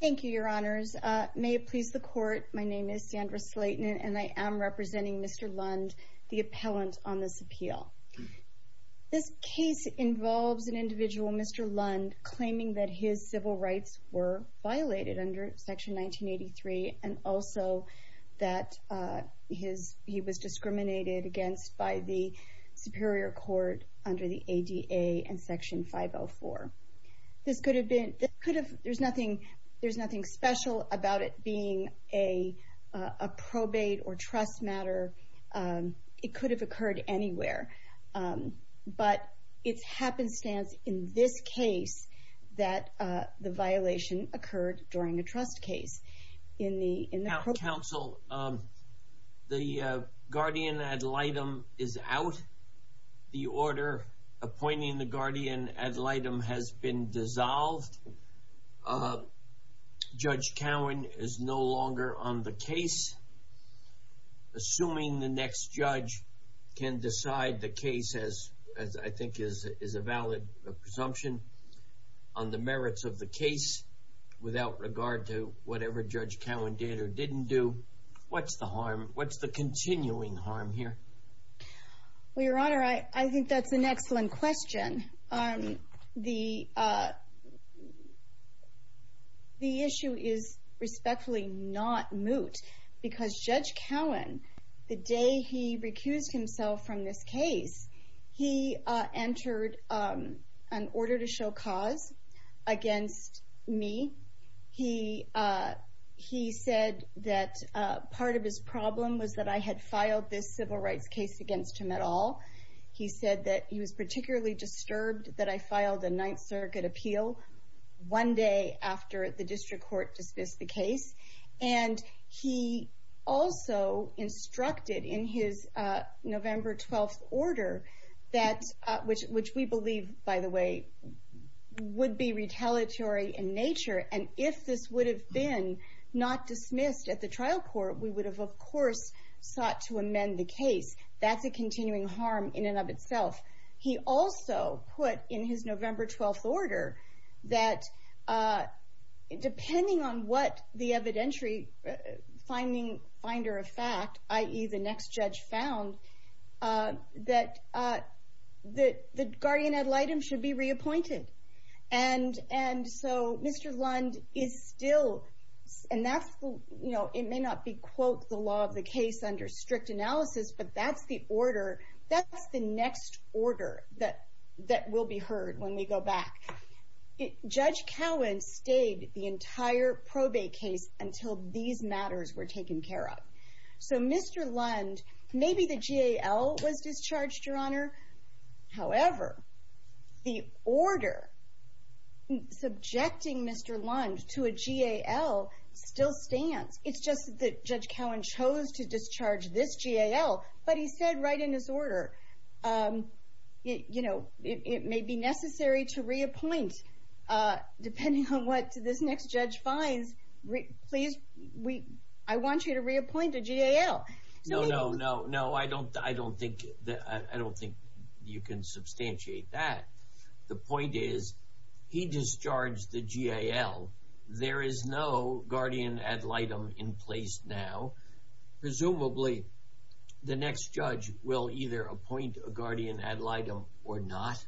Thank you, Your Honors. May it please the Court, my name is Sandra Slayton and I am representing Mr. Lund, the appellant on this appeal. This case involves an individual, Mr. Lund, claiming that his civil rights were violated under Section 1983 and also that he was discriminated against by the Superior Court under the ADA and Section 504. There's nothing special about it being a probate or trust matter. It could have occurred anywhere. But it's happenstance in this case that the violation occurred during a trust case. Counsel, the guardian ad litem is out. The order appointing the guardian ad litem has been dissolved. Judge Cowan is no longer on the case. Assuming the next judge can decide the case as I think is a valid presumption on the merits of the case without regard to whatever Judge Cowan did or didn't do, what's the harm, what's the continuing harm here? Well, Your Honor, I think that's an excellent question. The issue is respectfully not moot because Judge Cowan, the day he recused himself from this case, he entered an order to show cause against me. He said that part of his problem was that I had filed this civil rights case against him at all. He said that he was particularly disturbed that I filed a Ninth Circuit appeal one day after the District Court dismissed the case. And he also instructed in his November 12th order, which we believe, by the way, would be retaliatory in nature, and if this would have been not dismissed at the trial court, we would have, of course, sought to amend the case. That's a continuing harm in and of itself. He also put in his November 12th order that depending on what the evidentiary finder of fact, i.e. the next judge found, that the guardian ad litem should be reappointed. And so Mr. Lund is still, and that's the, you know, it may not be quote the law of the case under strict analysis, but that's the order, that's the next order that will be heard when we go back. Judge Cowan stayed the entire probate case until these matters were taken care of. So Mr. Lund, maybe the GAL was discharged, Your Honor. However, the order subjecting Mr. Lund to a GAL still stands. It's just that Judge Cowan chose to discharge this GAL, but he said right in his order, you know, it may be necessary to reappoint depending on what this next judge finds. Please, I want you to reappoint a GAL. No, no, no, no. I don't think you can substantiate that. The point is, he discharged the GAL. There is no guardian ad litem in place now. Presumably, the next judge will either appoint a guardian ad litem or not,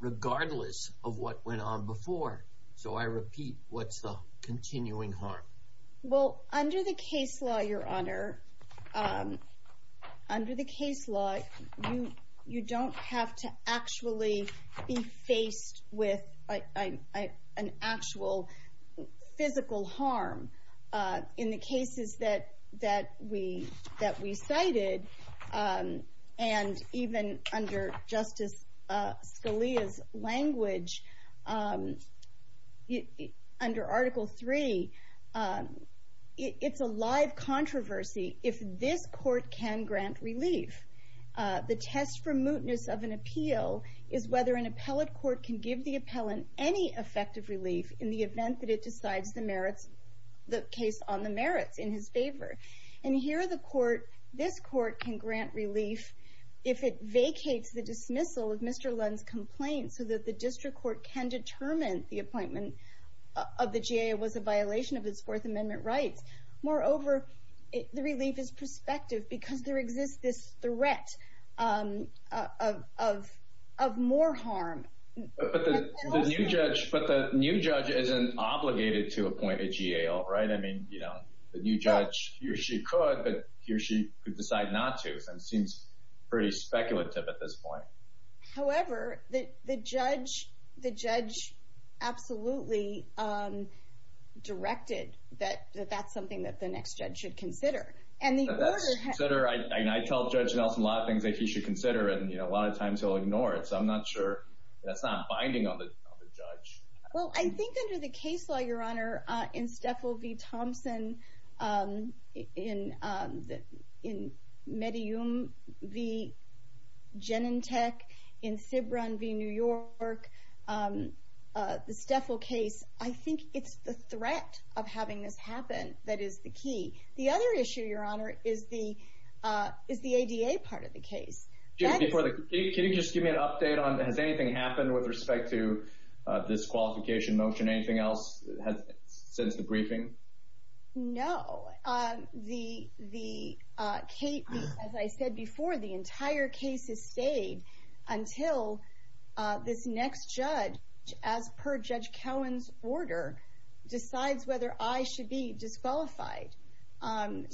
regardless of what went on before. So I repeat, what's the continuing harm? Well, under the case law, Your Honor, under the case law, you don't have to actually be faced with an actual physical harm. In the cases that we cited, and even under Justice Scalia's language, under Article 3, it's a live controversy if this Court can grant relief. The test for mootness of an appeal is whether an appellate court can give the appellant any effective relief in the event that it decides the merits, the case on the merits in his favor. And here, this Court can grant relief if it vacates the dismissal of Mr. Lund's complaint so that the district court can determine the appointment of the GAL was a violation of its Fourth Amendment rights. Moreover, the relief is prospective because there exists this threat of more harm. But the new judge isn't obligated to appoint a GAL, right? I mean, you know, the new judge, he or she could, but he or she could decide not to. It seems pretty speculative at this point. However, the judge absolutely directed that that's something that the next judge should consider. I tell Judge Nelson a lot of things that he should consider, and a lot of times he'll ignore it. So I'm not sure that's not binding on the judge. Well, I think under the case law, Your Honor, in Steffel v. Thompson, in Medellin v. Genentech, in Cibran v. New York, the Steffel case, I think it's the threat of having this happen that is the key. The other issue, Your Honor, is the ADA part of the case. Can you just give me an update on, has anything happened with respect to this qualification motion? Anything else since the briefing? No. As I said before, the entire case has stayed until this next judge, as per Judge Cowan's order, decides whether I should be disqualified. And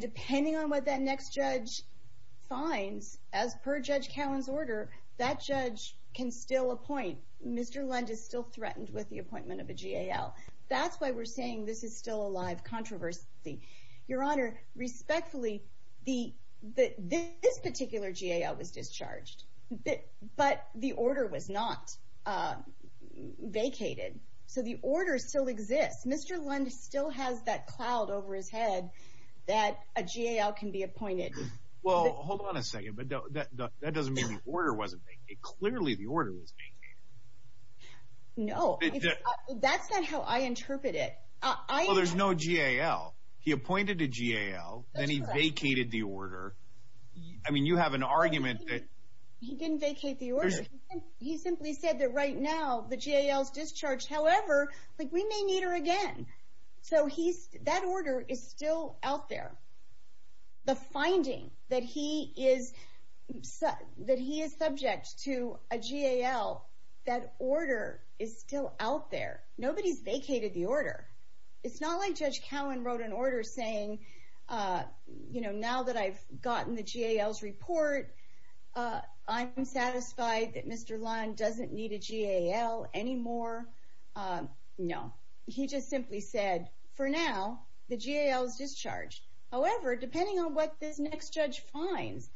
depending on what that next judge finds, as per Judge Cowan's order, that judge can still appoint. Mr. Lund is still threatened with the appointment of a GAL. That's why we're saying this is still a live controversy. Your Honor, respectfully, this particular GAL was discharged, but the order was not vacated. So the order still exists. Mr. Lund still has that cloud over his head that a GAL can be appointed. Well, hold on a second, but that doesn't mean the order wasn't vacated. Clearly the order was vacated. No, that's not how I interpret it. Well, there's no GAL. He appointed a GAL, then he vacated the order. I mean, you have an argument that... However, we may need her again. So that order is still out there. The finding that he is subject to a GAL, that order is still out there. Nobody's vacated the order. It's not like Judge Cowan wrote an order saying, now that I've gotten the GAL's report, I'm satisfied that Mr. Lund doesn't need a GAL anymore. No. He just simply said, for now, the GAL is discharged. However, depending on what this next judge finds,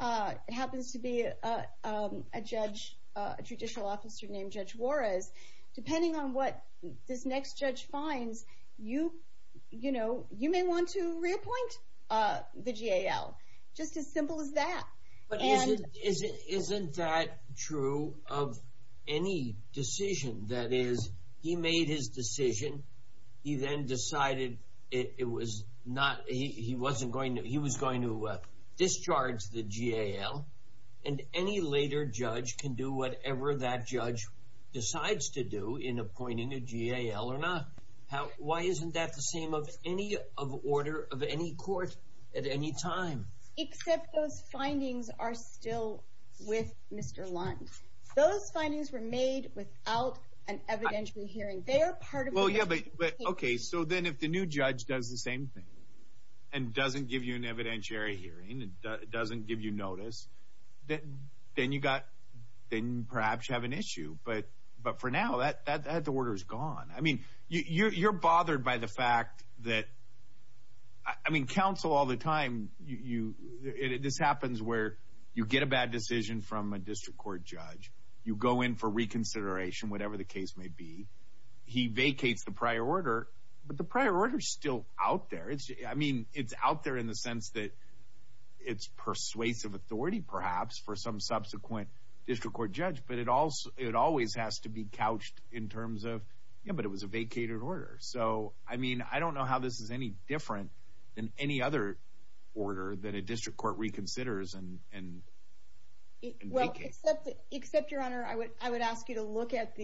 it happens to be a judicial officer named Judge Juarez, depending on what this next judge finds, you may want to reappoint the GAL. Just as simple as that. But isn't that true of any decision? That is, he made his decision, he then decided he was going to discharge the GAL, and any later judge can do whatever that judge decides to do in appointing a GAL or not. Why isn't that the same of any order of any court at any time? Except those findings are still with Mr. Lund. Those findings were made without an evidentiary hearing. Okay, so then if the new judge does the same thing, and doesn't give you an evidentiary hearing, and doesn't give you notice, then perhaps you have an issue. But for now, the order is gone. You're bothered by the fact that, I mean, counsel all the time, this happens where you get a bad decision from a district court judge, you go in for reconsideration, whatever the case may be, he vacates the prior order, but the prior order is still out there. I mean, it's out there in the sense that it's persuasive authority, perhaps, for some subsequent district court judge, but it always has to be couched in terms of, yeah, but it was a vacated order. So, I mean, I don't know how this is any different than any other order that a district court reconsiders and vacates. Well, except, Your Honor, I would ask you to look at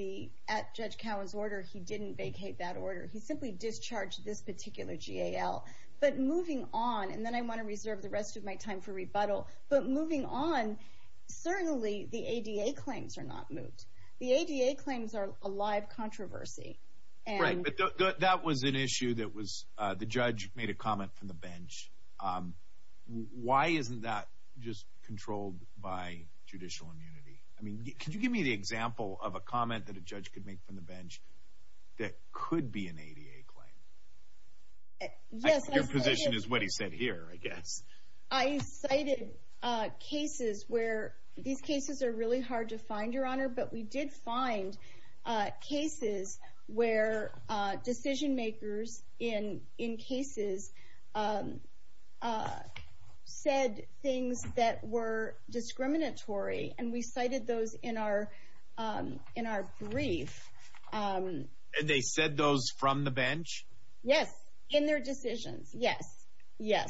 Judge Cowan's order. He didn't vacate that order. He simply discharged this particular GAL. But moving on, and then I want to reserve the rest of my time for rebuttal, but moving on, certainly the ADA claims are not moved. The ADA claims are a live controversy. Right, but that was an issue that was – the judge made a comment from the bench. Why isn't that just controlled by judicial immunity? I mean, could you give me the example of a comment that a judge could make from the bench that could be an ADA claim? I think your position is what he said here, I guess. I cited cases where – these cases are really hard to find, Your Honor, but we did find cases where decision-makers in cases said things that were discriminatory, and we cited those in our brief. And they said those from the bench? Yes, in their decisions. Yes. Yes.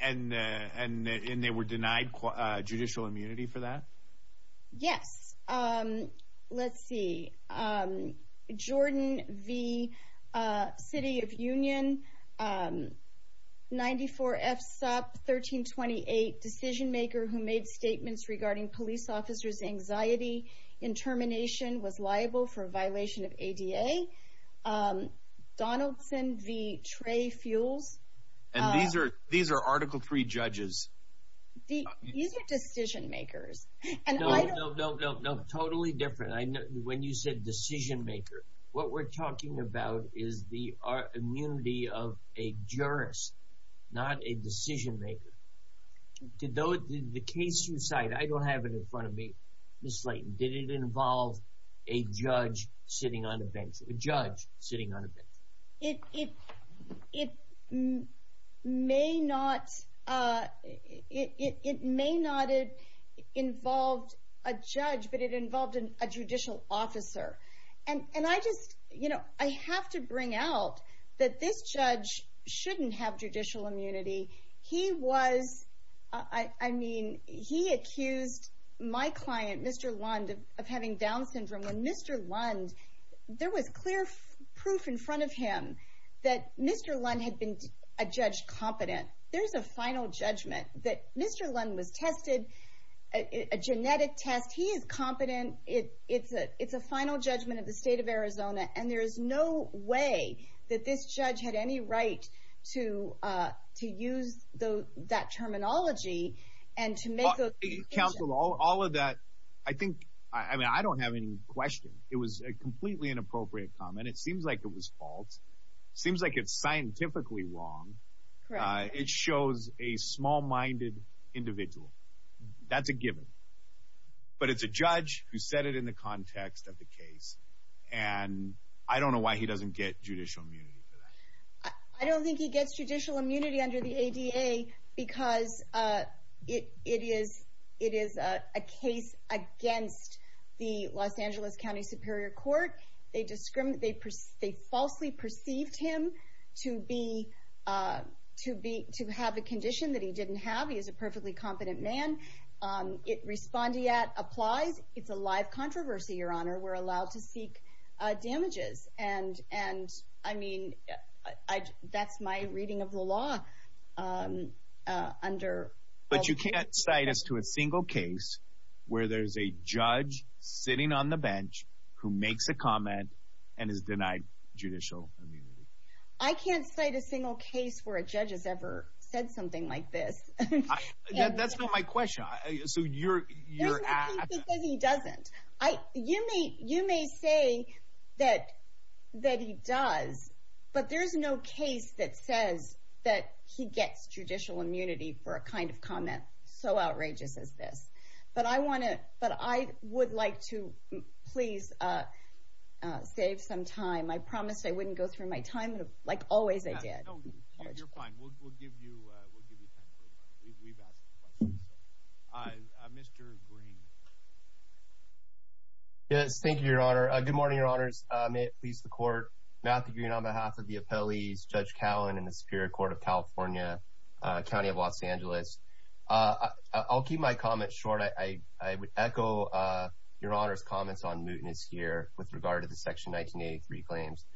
And they were denied judicial immunity for that? Yes. Let's see. Jordan v. City of Union, 94F Sup, 1328, decision-maker who made statements regarding police officers' anxiety in termination, was liable for violation of ADA. Donaldson v. Trey Fuels. And these are Article III judges. These are decision-makers. No, no, no, no. Totally different. When you said decision-maker, what we're talking about is the immunity of a jurist, not a decision-maker. The case you cite, I don't have it in front of me. Ms. Slayton, did it involve a judge sitting on a bench? It may not have involved a judge, but it involved a judicial officer. And I just, you know, I have to bring out that this judge shouldn't have judicial immunity. He was, I mean, he accused my client, Mr. Lund, of having Down syndrome. When Mr. Lund, there was clear proof in front of him that Mr. Lund had been a judge competent. There's a final judgment that Mr. Lund was tested, a genetic test. He is competent. It's a final judgment of the state of Arizona. And there is no way that this judge had any right to use that terminology and to make those accusations. Counsel, all of that, I think, I mean, I don't have any question. It was a completely inappropriate comment. It seems like it was false. It seems like it's scientifically wrong. It shows a small-minded individual. That's a given. But it's a judge who said it in the context of the case. And I don't know why he doesn't get judicial immunity for that. I don't think he gets judicial immunity under the ADA because it is a case against the Los Angeles County Superior Court. They falsely perceived him to have a condition that he didn't have. He is a perfectly competent man. It respondeat applies. It's a live controversy, Your Honor. We're allowed to seek damages. And, I mean, that's my reading of the law. But you can't cite us to a single case where there's a judge sitting on the bench who makes a comment and is denied judicial immunity. I can't cite a single case where a judge has ever said something like this. That's not my question. It's because he doesn't. You may say that he does, but there's no case that says that he gets judicial immunity for a kind of comment so outrageous as this. But I would like to please save some time. I promised I wouldn't go through my time, like always I did. No, you're fine. We'll give you time. We've asked questions. Mr. Green. Yes, thank you, Your Honor. Good morning, Your Honors. May it please the Court. Matthew Green on behalf of the appellees, Judge Cowan and the Superior Court of California, County of Los Angeles. I'll keep my comments short. I would echo Your Honor's comments on mootness here with regard to the Section 1983 claims.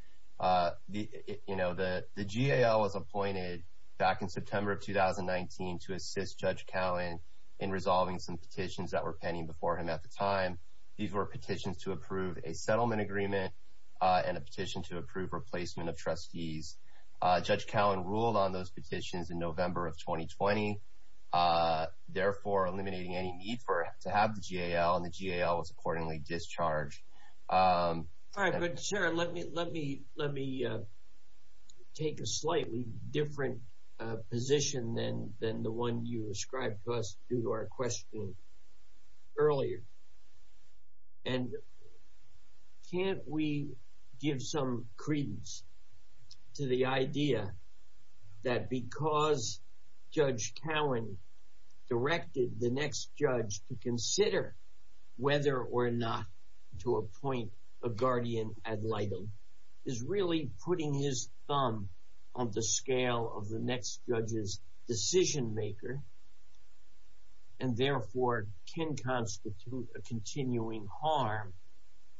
You know, the GAL was appointed back in September of 2019 to assist Judge Cowan in resolving some petitions that were pending before him at the time. These were petitions to approve a settlement agreement and a petition to approve replacement of trustees. Judge Cowan ruled on those petitions in November of 2020, therefore eliminating any need to have the GAL, and the GAL was accordingly discharged. All right, good. Sir, let me take a slightly different position than the one you ascribed to us due to our question earlier. And can't we give some credence to the idea that because Judge Cowan directed the next judge to consider whether or not to appoint a guardian ad litem, is really putting his thumb on the scale of the next judge's decision maker, and therefore can constitute a continuing harm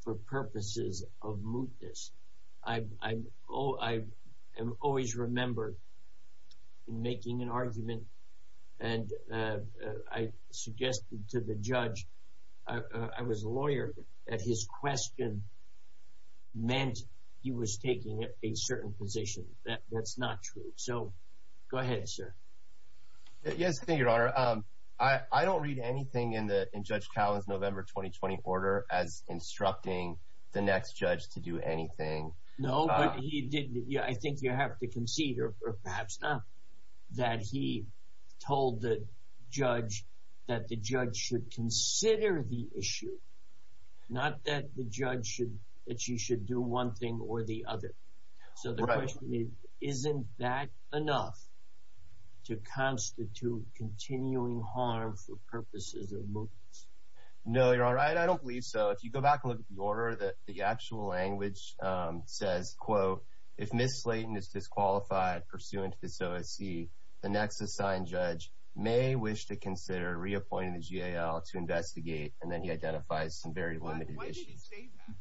for purposes of mootness? I am always remembered in making an argument, and I suggested to the judge, I was a lawyer, that his question meant he was taking a certain position. That's not true. So, go ahead, sir. Yes, thank you, Your Honor. I don't read anything in Judge Cowan's November 2020 order as instructing the next judge to do anything. No, but I think you have to concede, or perhaps not, that he told the judge that the judge should consider the issue, not that the judge should do one thing or the other. So the question is, isn't that enough to constitute continuing harm for purposes of mootness? No, Your Honor, I don't believe so. If you go back and look at the order, the actual language says, quote, if Ms. Slayton is disqualified pursuant to this OSC, the next assigned judge may wish to consider reappointing the GAL to investigate, and then he identifies some very limited issues. Why did he say that?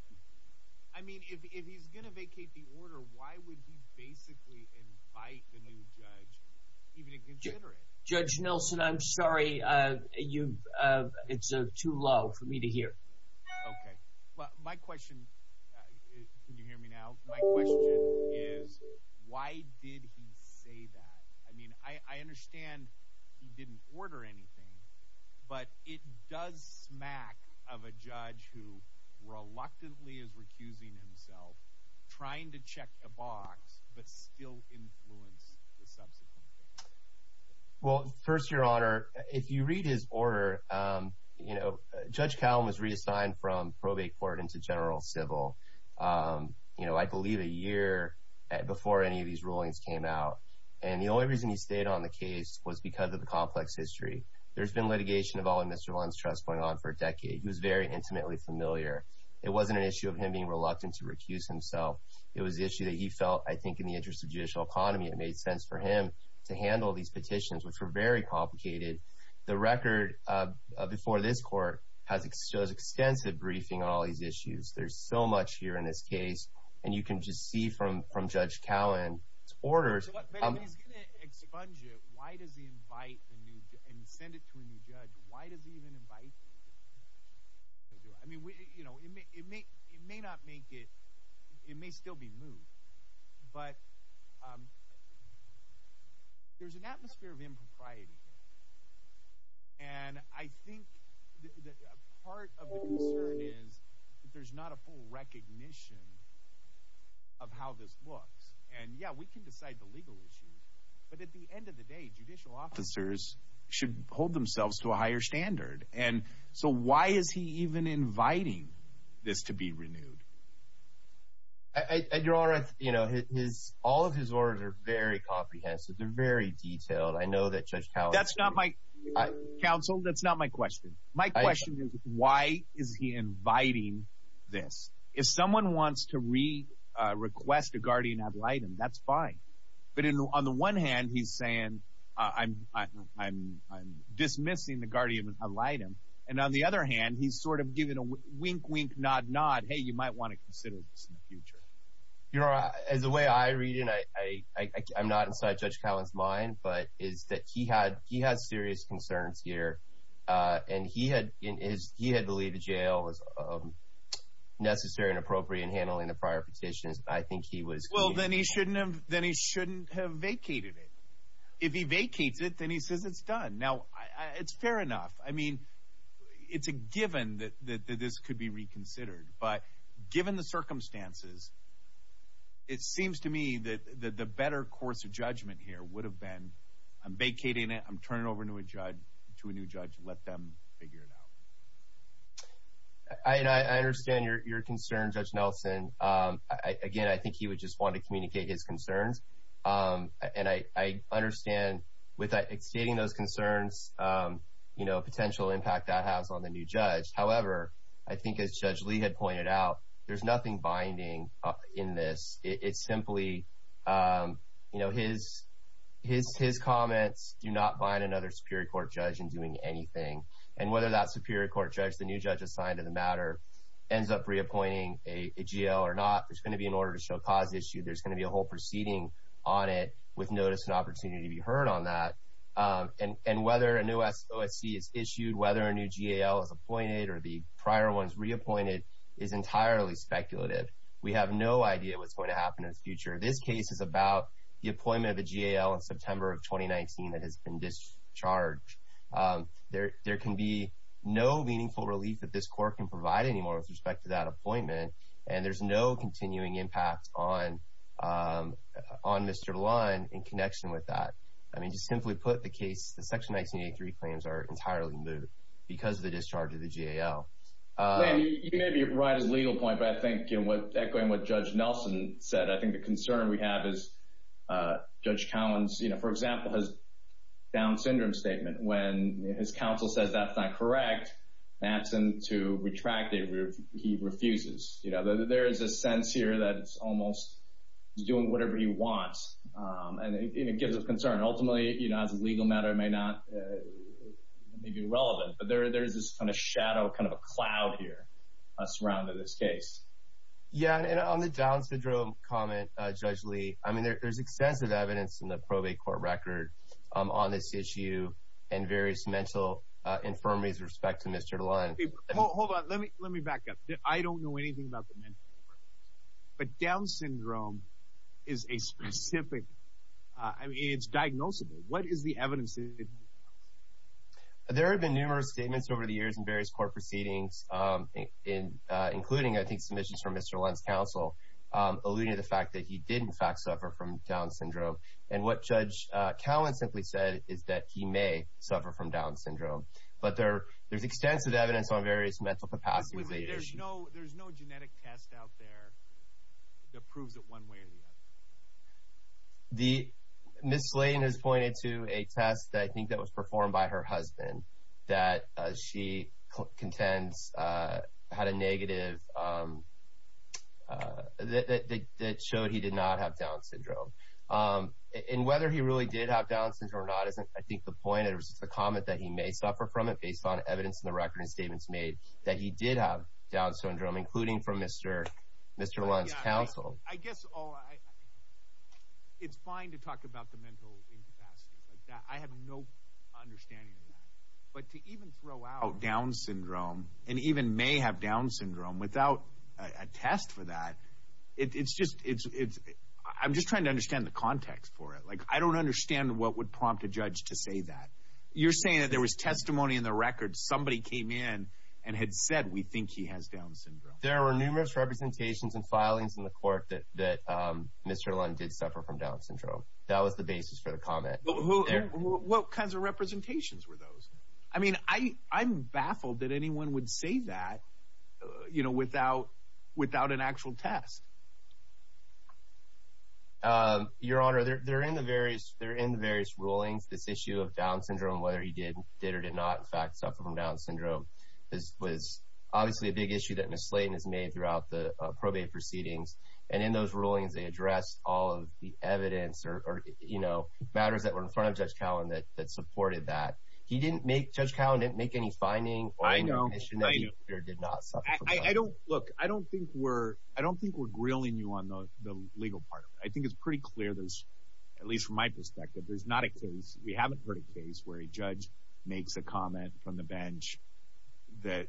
I mean, if he's going to vacate the order, why would he basically invite the new judge even to consider it? Judge Nilsen, I'm sorry. It's too low for me to hear. Okay. Well, my question – can you hear me now? My question is, why did he say that? I mean, I understand he didn't order anything, but it does smack of a judge who reluctantly is recusing himself, trying to check a box, but still influence the subsequent case. Well, first, Your Honor, if you read his order, you know, Judge Cowen was reassigned from probate court into general civil, you know, I believe a year before any of these rulings came out. And the only reason he stayed on the case was because of the complex history. There's been litigation involving Mr. Lundstrass going on for a decade. He was very intimately familiar. It wasn't an issue of him being reluctant to recuse himself. It was the issue that he felt, I think, in the interest of judicial economy, it made sense for him to handle these petitions, which were very complicated. The record before this court shows extensive briefing on all these issues. There's so much here in this case, and you can just see from Judge Cowen's orders – But if he's going to expunge it, why does he invite the new – and send it to a new judge? Why does he even invite – I mean, you know, it may not make it – it may still be moved, but there's an atmosphere of impropriety here. And I think part of the concern is that there's not a full recognition of how this looks. And, yeah, we can decide the legal issues, but at the end of the day, judicial officers should hold themselves to a higher standard. And so why is he even inviting this to be renewed? Your Honor, you know, all of his orders are very comprehensive. They're very detailed. I know that Judge Cowen – That's not my – Counsel, that's not my question. My question is why is he inviting this? If someone wants to re-request a guardian ad litem, that's fine. But on the one hand, he's saying, I'm dismissing the guardian ad litem. And on the other hand, he's sort of giving a wink, wink, nod, nod, hey, you might want to consider this in the future. Your Honor, as the way I read it, I'm not inside Judge Cowen's mind, but it's that he had serious concerns here. And he had believed the jail was necessary and appropriate in handling the prior petitions. I think he was – Well, then he shouldn't have vacated it. If he vacates it, then he says it's done. Now, it's fair enough. I mean, it's a given that this could be reconsidered. But given the circumstances, it seems to me that the better course of judgment here would have been I'm vacating it, I'm turning it over to a new judge and let them figure it out. I understand your concern, Judge Nelson. Again, I think he would just want to communicate his concerns. And I understand with stating those concerns, you know, potential impact that has on the new judge. However, I think as Judge Lee had pointed out, there's nothing binding in this. It's simply, you know, his comments do not bind another Superior Court judge in doing anything. And whether that Superior Court judge, the new judge assigned to the matter, ends up reappointing a G.A.L. or not, there's going to be an order to show cause issued. There's going to be a whole proceeding on it with notice and opportunity to be heard on that. And whether a new OSC is issued, whether a new G.A.L. is appointed or the prior one is reappointed is entirely speculative. We have no idea what's going to happen in the future. This case is about the appointment of the G.A.L. in September of 2019 that has been discharged. There can be no meaningful relief that this court can provide anymore with respect to that appointment. And there's no continuing impact on Mr. Lund in connection with that. I mean, just simply put, the case, the Section 1983 claims are entirely moot because of the discharge of the G.A.L. You may be right as a legal point, but I think echoing what Judge Nelson said, I think the concern we have is Judge Collins, for example, has a Down syndrome statement. When his counsel says that's not correct and asks him to retract it, he refuses. There is a sense here that he's almost doing whatever he wants. And it gives us concern. Ultimately, as a legal matter, it may be irrelevant. But there is this kind of shadow, kind of a cloud here surrounding this case. Yeah, and on the Down syndrome comment, Judge Lee, I mean, there's extensive evidence in the probate court record on this issue and various mental infirmaries with respect to Mr. Lund. Hold on. Let me back up. I don't know anything about the mental infirmary. But Down syndrome is a specific – I mean, it's diagnosable. What is the evidence? There have been numerous statements over the years in various court proceedings, including, I think, submissions from Mr. Lund's counsel alluding to the fact that he did, in fact, suffer from Down syndrome. And what Judge Collins simply said is that he may suffer from Down syndrome. But there's extensive evidence on various mental capacities. There's no genetic test out there that proves it one way or the other. Ms. Slayton has pointed to a test, I think, that was performed by her husband, that she contends had a negative – that showed he did not have Down syndrome. And whether he really did have Down syndrome or not isn't, I think, the point. It was just a comment that he may suffer from it based on evidence in the record and statements made that he did have Down syndrome, including from Mr. Lund's counsel. I guess all – it's fine to talk about the mental incapacities like that. I have no understanding of that. But to even throw out Down syndrome and even may have Down syndrome without a test for that, it's just – I'm just trying to understand the context for it. Like, I don't understand what would prompt a judge to say that. You're saying that there was testimony in the record. Somebody came in and had said, we think he has Down syndrome. There were numerous representations and filings in the court that Mr. Lund did suffer from Down syndrome. That was the basis for the comment. What kinds of representations were those? I mean, I'm baffled that anyone would say that without an actual test. Your Honor, they're in the various rulings. This issue of Down syndrome, whether he did or did not, in fact, suffer from Down syndrome, was obviously a big issue that Ms. Slayton has made throughout the probate proceedings. And in those rulings, they addressed all of the evidence or, you know, matters that were in front of Judge Cowan that supported that. He didn't make – Judge Cowan didn't make any finding on the condition that he did not suffer from Down syndrome. I don't – look, I don't think we're grilling you on the legal part of it. I think it's pretty clear, at least from my perspective, there's not a case – we haven't heard a case where a judge makes a comment from the bench that,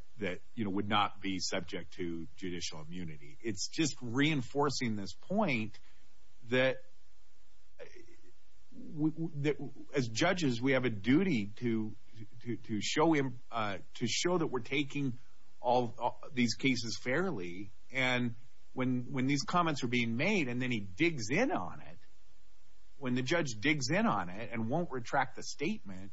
you know, would not be subject to judicial immunity. It's just reinforcing this point that as judges we have a duty to show him – to show that we're taking all these cases fairly. And when these comments are being made and then he digs in on it, when the judge digs in on it and won't retract the statement,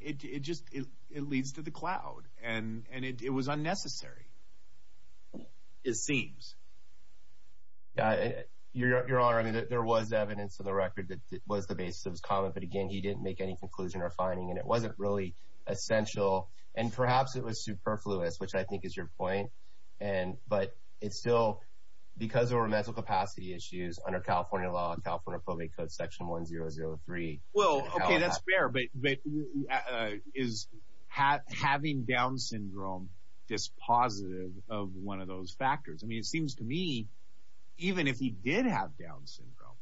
it just – it leads to the cloud. And it was unnecessary, it seems. Your Honor, I mean, there was evidence to the record that was the basis of his comment. But again, he didn't make any conclusion or finding. And it wasn't really essential. And perhaps it was superfluous, which I think is your point. But it's still – because there were mental capacity issues under California law, California probate code section 1003. Well, okay, that's fair. But is having Down syndrome dispositive of one of those factors? I mean, it seems to me even if he did have Down syndrome,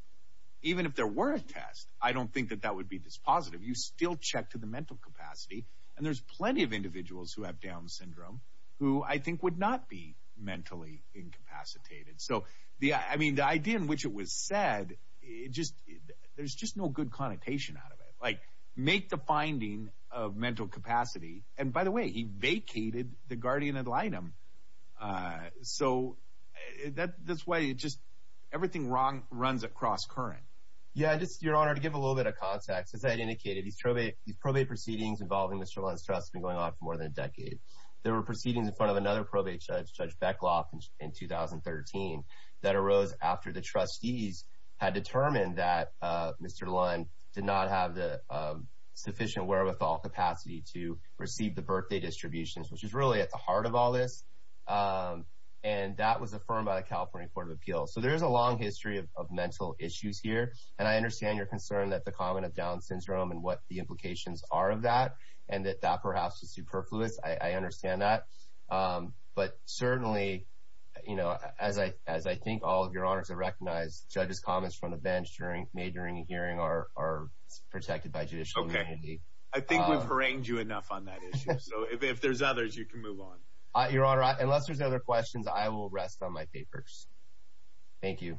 even if there were a test, I don't think that that would be dispositive. You still check to the mental capacity. And there's plenty of individuals who have Down syndrome who I think would not be mentally incapacitated. So, I mean, the idea in which it was said, it just – there's just no good connotation out of it. Like, make the finding of mental capacity. And, by the way, he vacated the guardian ad litem. So that's why it just – everything runs across current. Yeah, just, Your Honor, to give a little bit of context, as I indicated, these probate proceedings involving Mr. Lund's trust have been going on for more than a decade. There were proceedings in front of another probate judge, Judge Beckloff, in 2013, that arose after the trustees had determined that Mr. Lund did not have the sufficient wherewithal capacity to receive the birthday distributions, which is really at the heart of all this. And that was affirmed by the California Court of Appeals. So there is a long history of mental issues here. And I understand your concern that the comment of Down syndrome and what the implications are of that and that that perhaps is superfluous. I understand that. But certainly, you know, as I think all of Your Honors have recognized, judges' comments from the bench made during the hearing are protected by judicial immunity. Okay. I think we've harangued you enough on that issue. So if there's others, you can move on. Your Honor, unless there's other questions, I will rest on my papers. Thank you.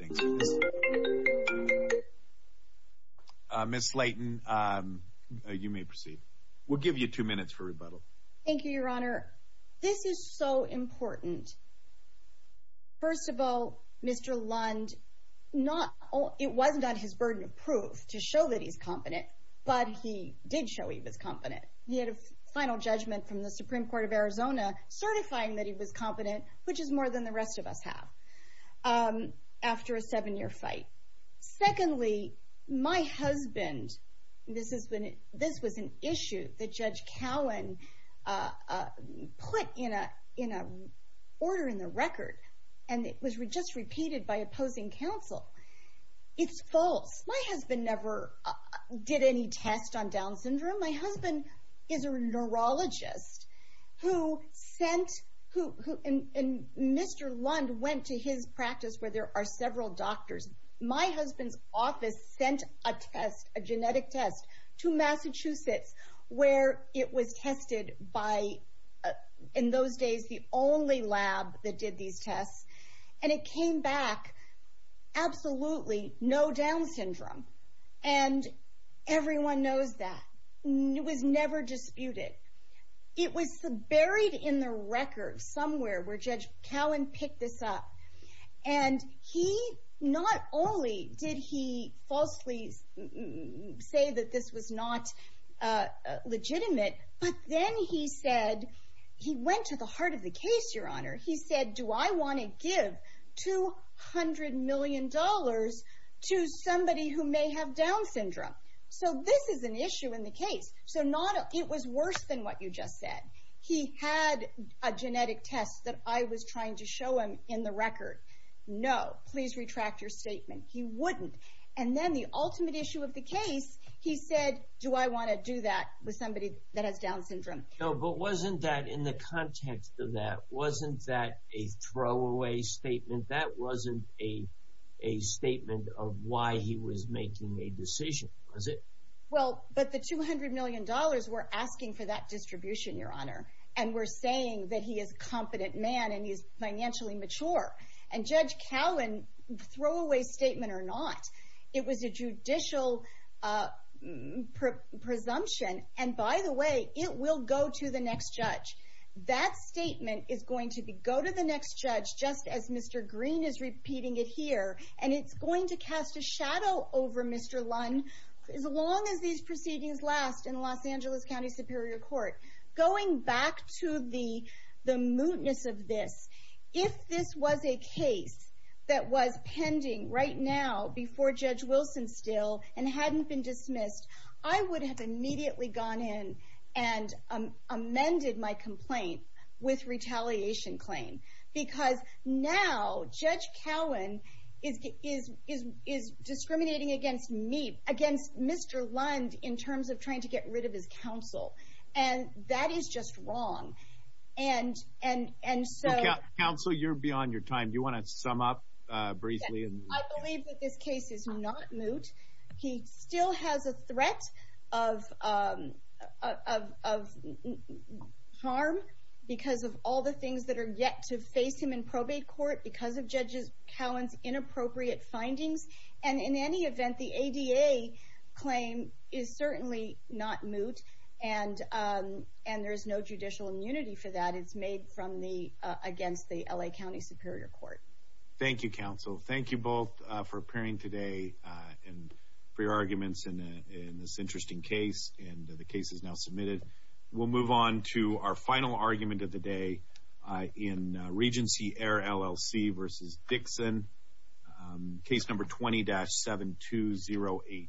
Thanks for this. Ms. Slayton, you may proceed. We'll give you two minutes for rebuttal. Thank you, Your Honor. This is so important. First of all, Mr. Lund, it wasn't on his burden of proof to show that he's competent, but he did show he was competent. He had a final judgment from the Supreme Court of Arizona certifying that he was competent, which is more than the rest of us have, after a seven-year fight. Secondly, my husband, this was an issue that Judge Cowan put in an order in the record, and it was just repeated by opposing counsel. It's false. My husband never did any test on Down syndrome. My husband is a neurologist, and Mr. Lund went to his practice where there are several doctors. My husband's office sent a genetic test to Massachusetts, where it was tested by, in those days, the only lab that did these tests, and it came back absolutely no Down syndrome, and everyone knows that. It was never disputed. It was buried in the record somewhere where Judge Cowan picked this up, and not only did he falsely say that this was not legitimate, but then he went to the heart of the case, Your Honor. He said, Do I want to give $200 million to somebody who may have Down syndrome? So this is an issue in the case. So it was worse than what you just said. He had a genetic test that I was trying to show him in the record. No, please retract your statement. He wouldn't, and then the ultimate issue of the case, he said, Do I want to do that with somebody that has Down syndrome? No, but wasn't that, in the context of that, wasn't that a throwaway statement? That wasn't a statement of why he was making a decision, was it? Well, but the $200 million, we're asking for that distribution, Your Honor, and we're saying that he is a competent man and he is financially mature, and Judge Cowan, throwaway statement or not, it was a judicial presumption, and by the way, it will go to the next judge. That statement is going to go to the next judge, just as Mr. Green is repeating it here, and it's going to cast a shadow over Mr. Lund as long as these proceedings last in the Los Angeles County Superior Court. Going back to the mootness of this, if this was a case that was pending right now, before Judge Wilson still, and hadn't been dismissed, I would have immediately gone in and amended my complaint with retaliation claim because now Judge Cowan is discriminating against me, against Mr. Lund, in terms of trying to get rid of his counsel, and that is just wrong. Counsel, you're beyond your time. Do you want to sum up briefly? I believe that this case is not moot. He still has a threat of harm because of all the things that are yet to face him in probate court, because of Judge Cowan's inappropriate findings, and in any event, the ADA claim is certainly not moot, and there is no judicial immunity for that. It's made against the L.A. County Superior Court. Thank you, counsel. Thank you both for appearing today and for your arguments in this interesting case, and the case is now submitted. We'll move on to our final argument of the day in Regency Heir LLC v. Dixon, case number 20-72084.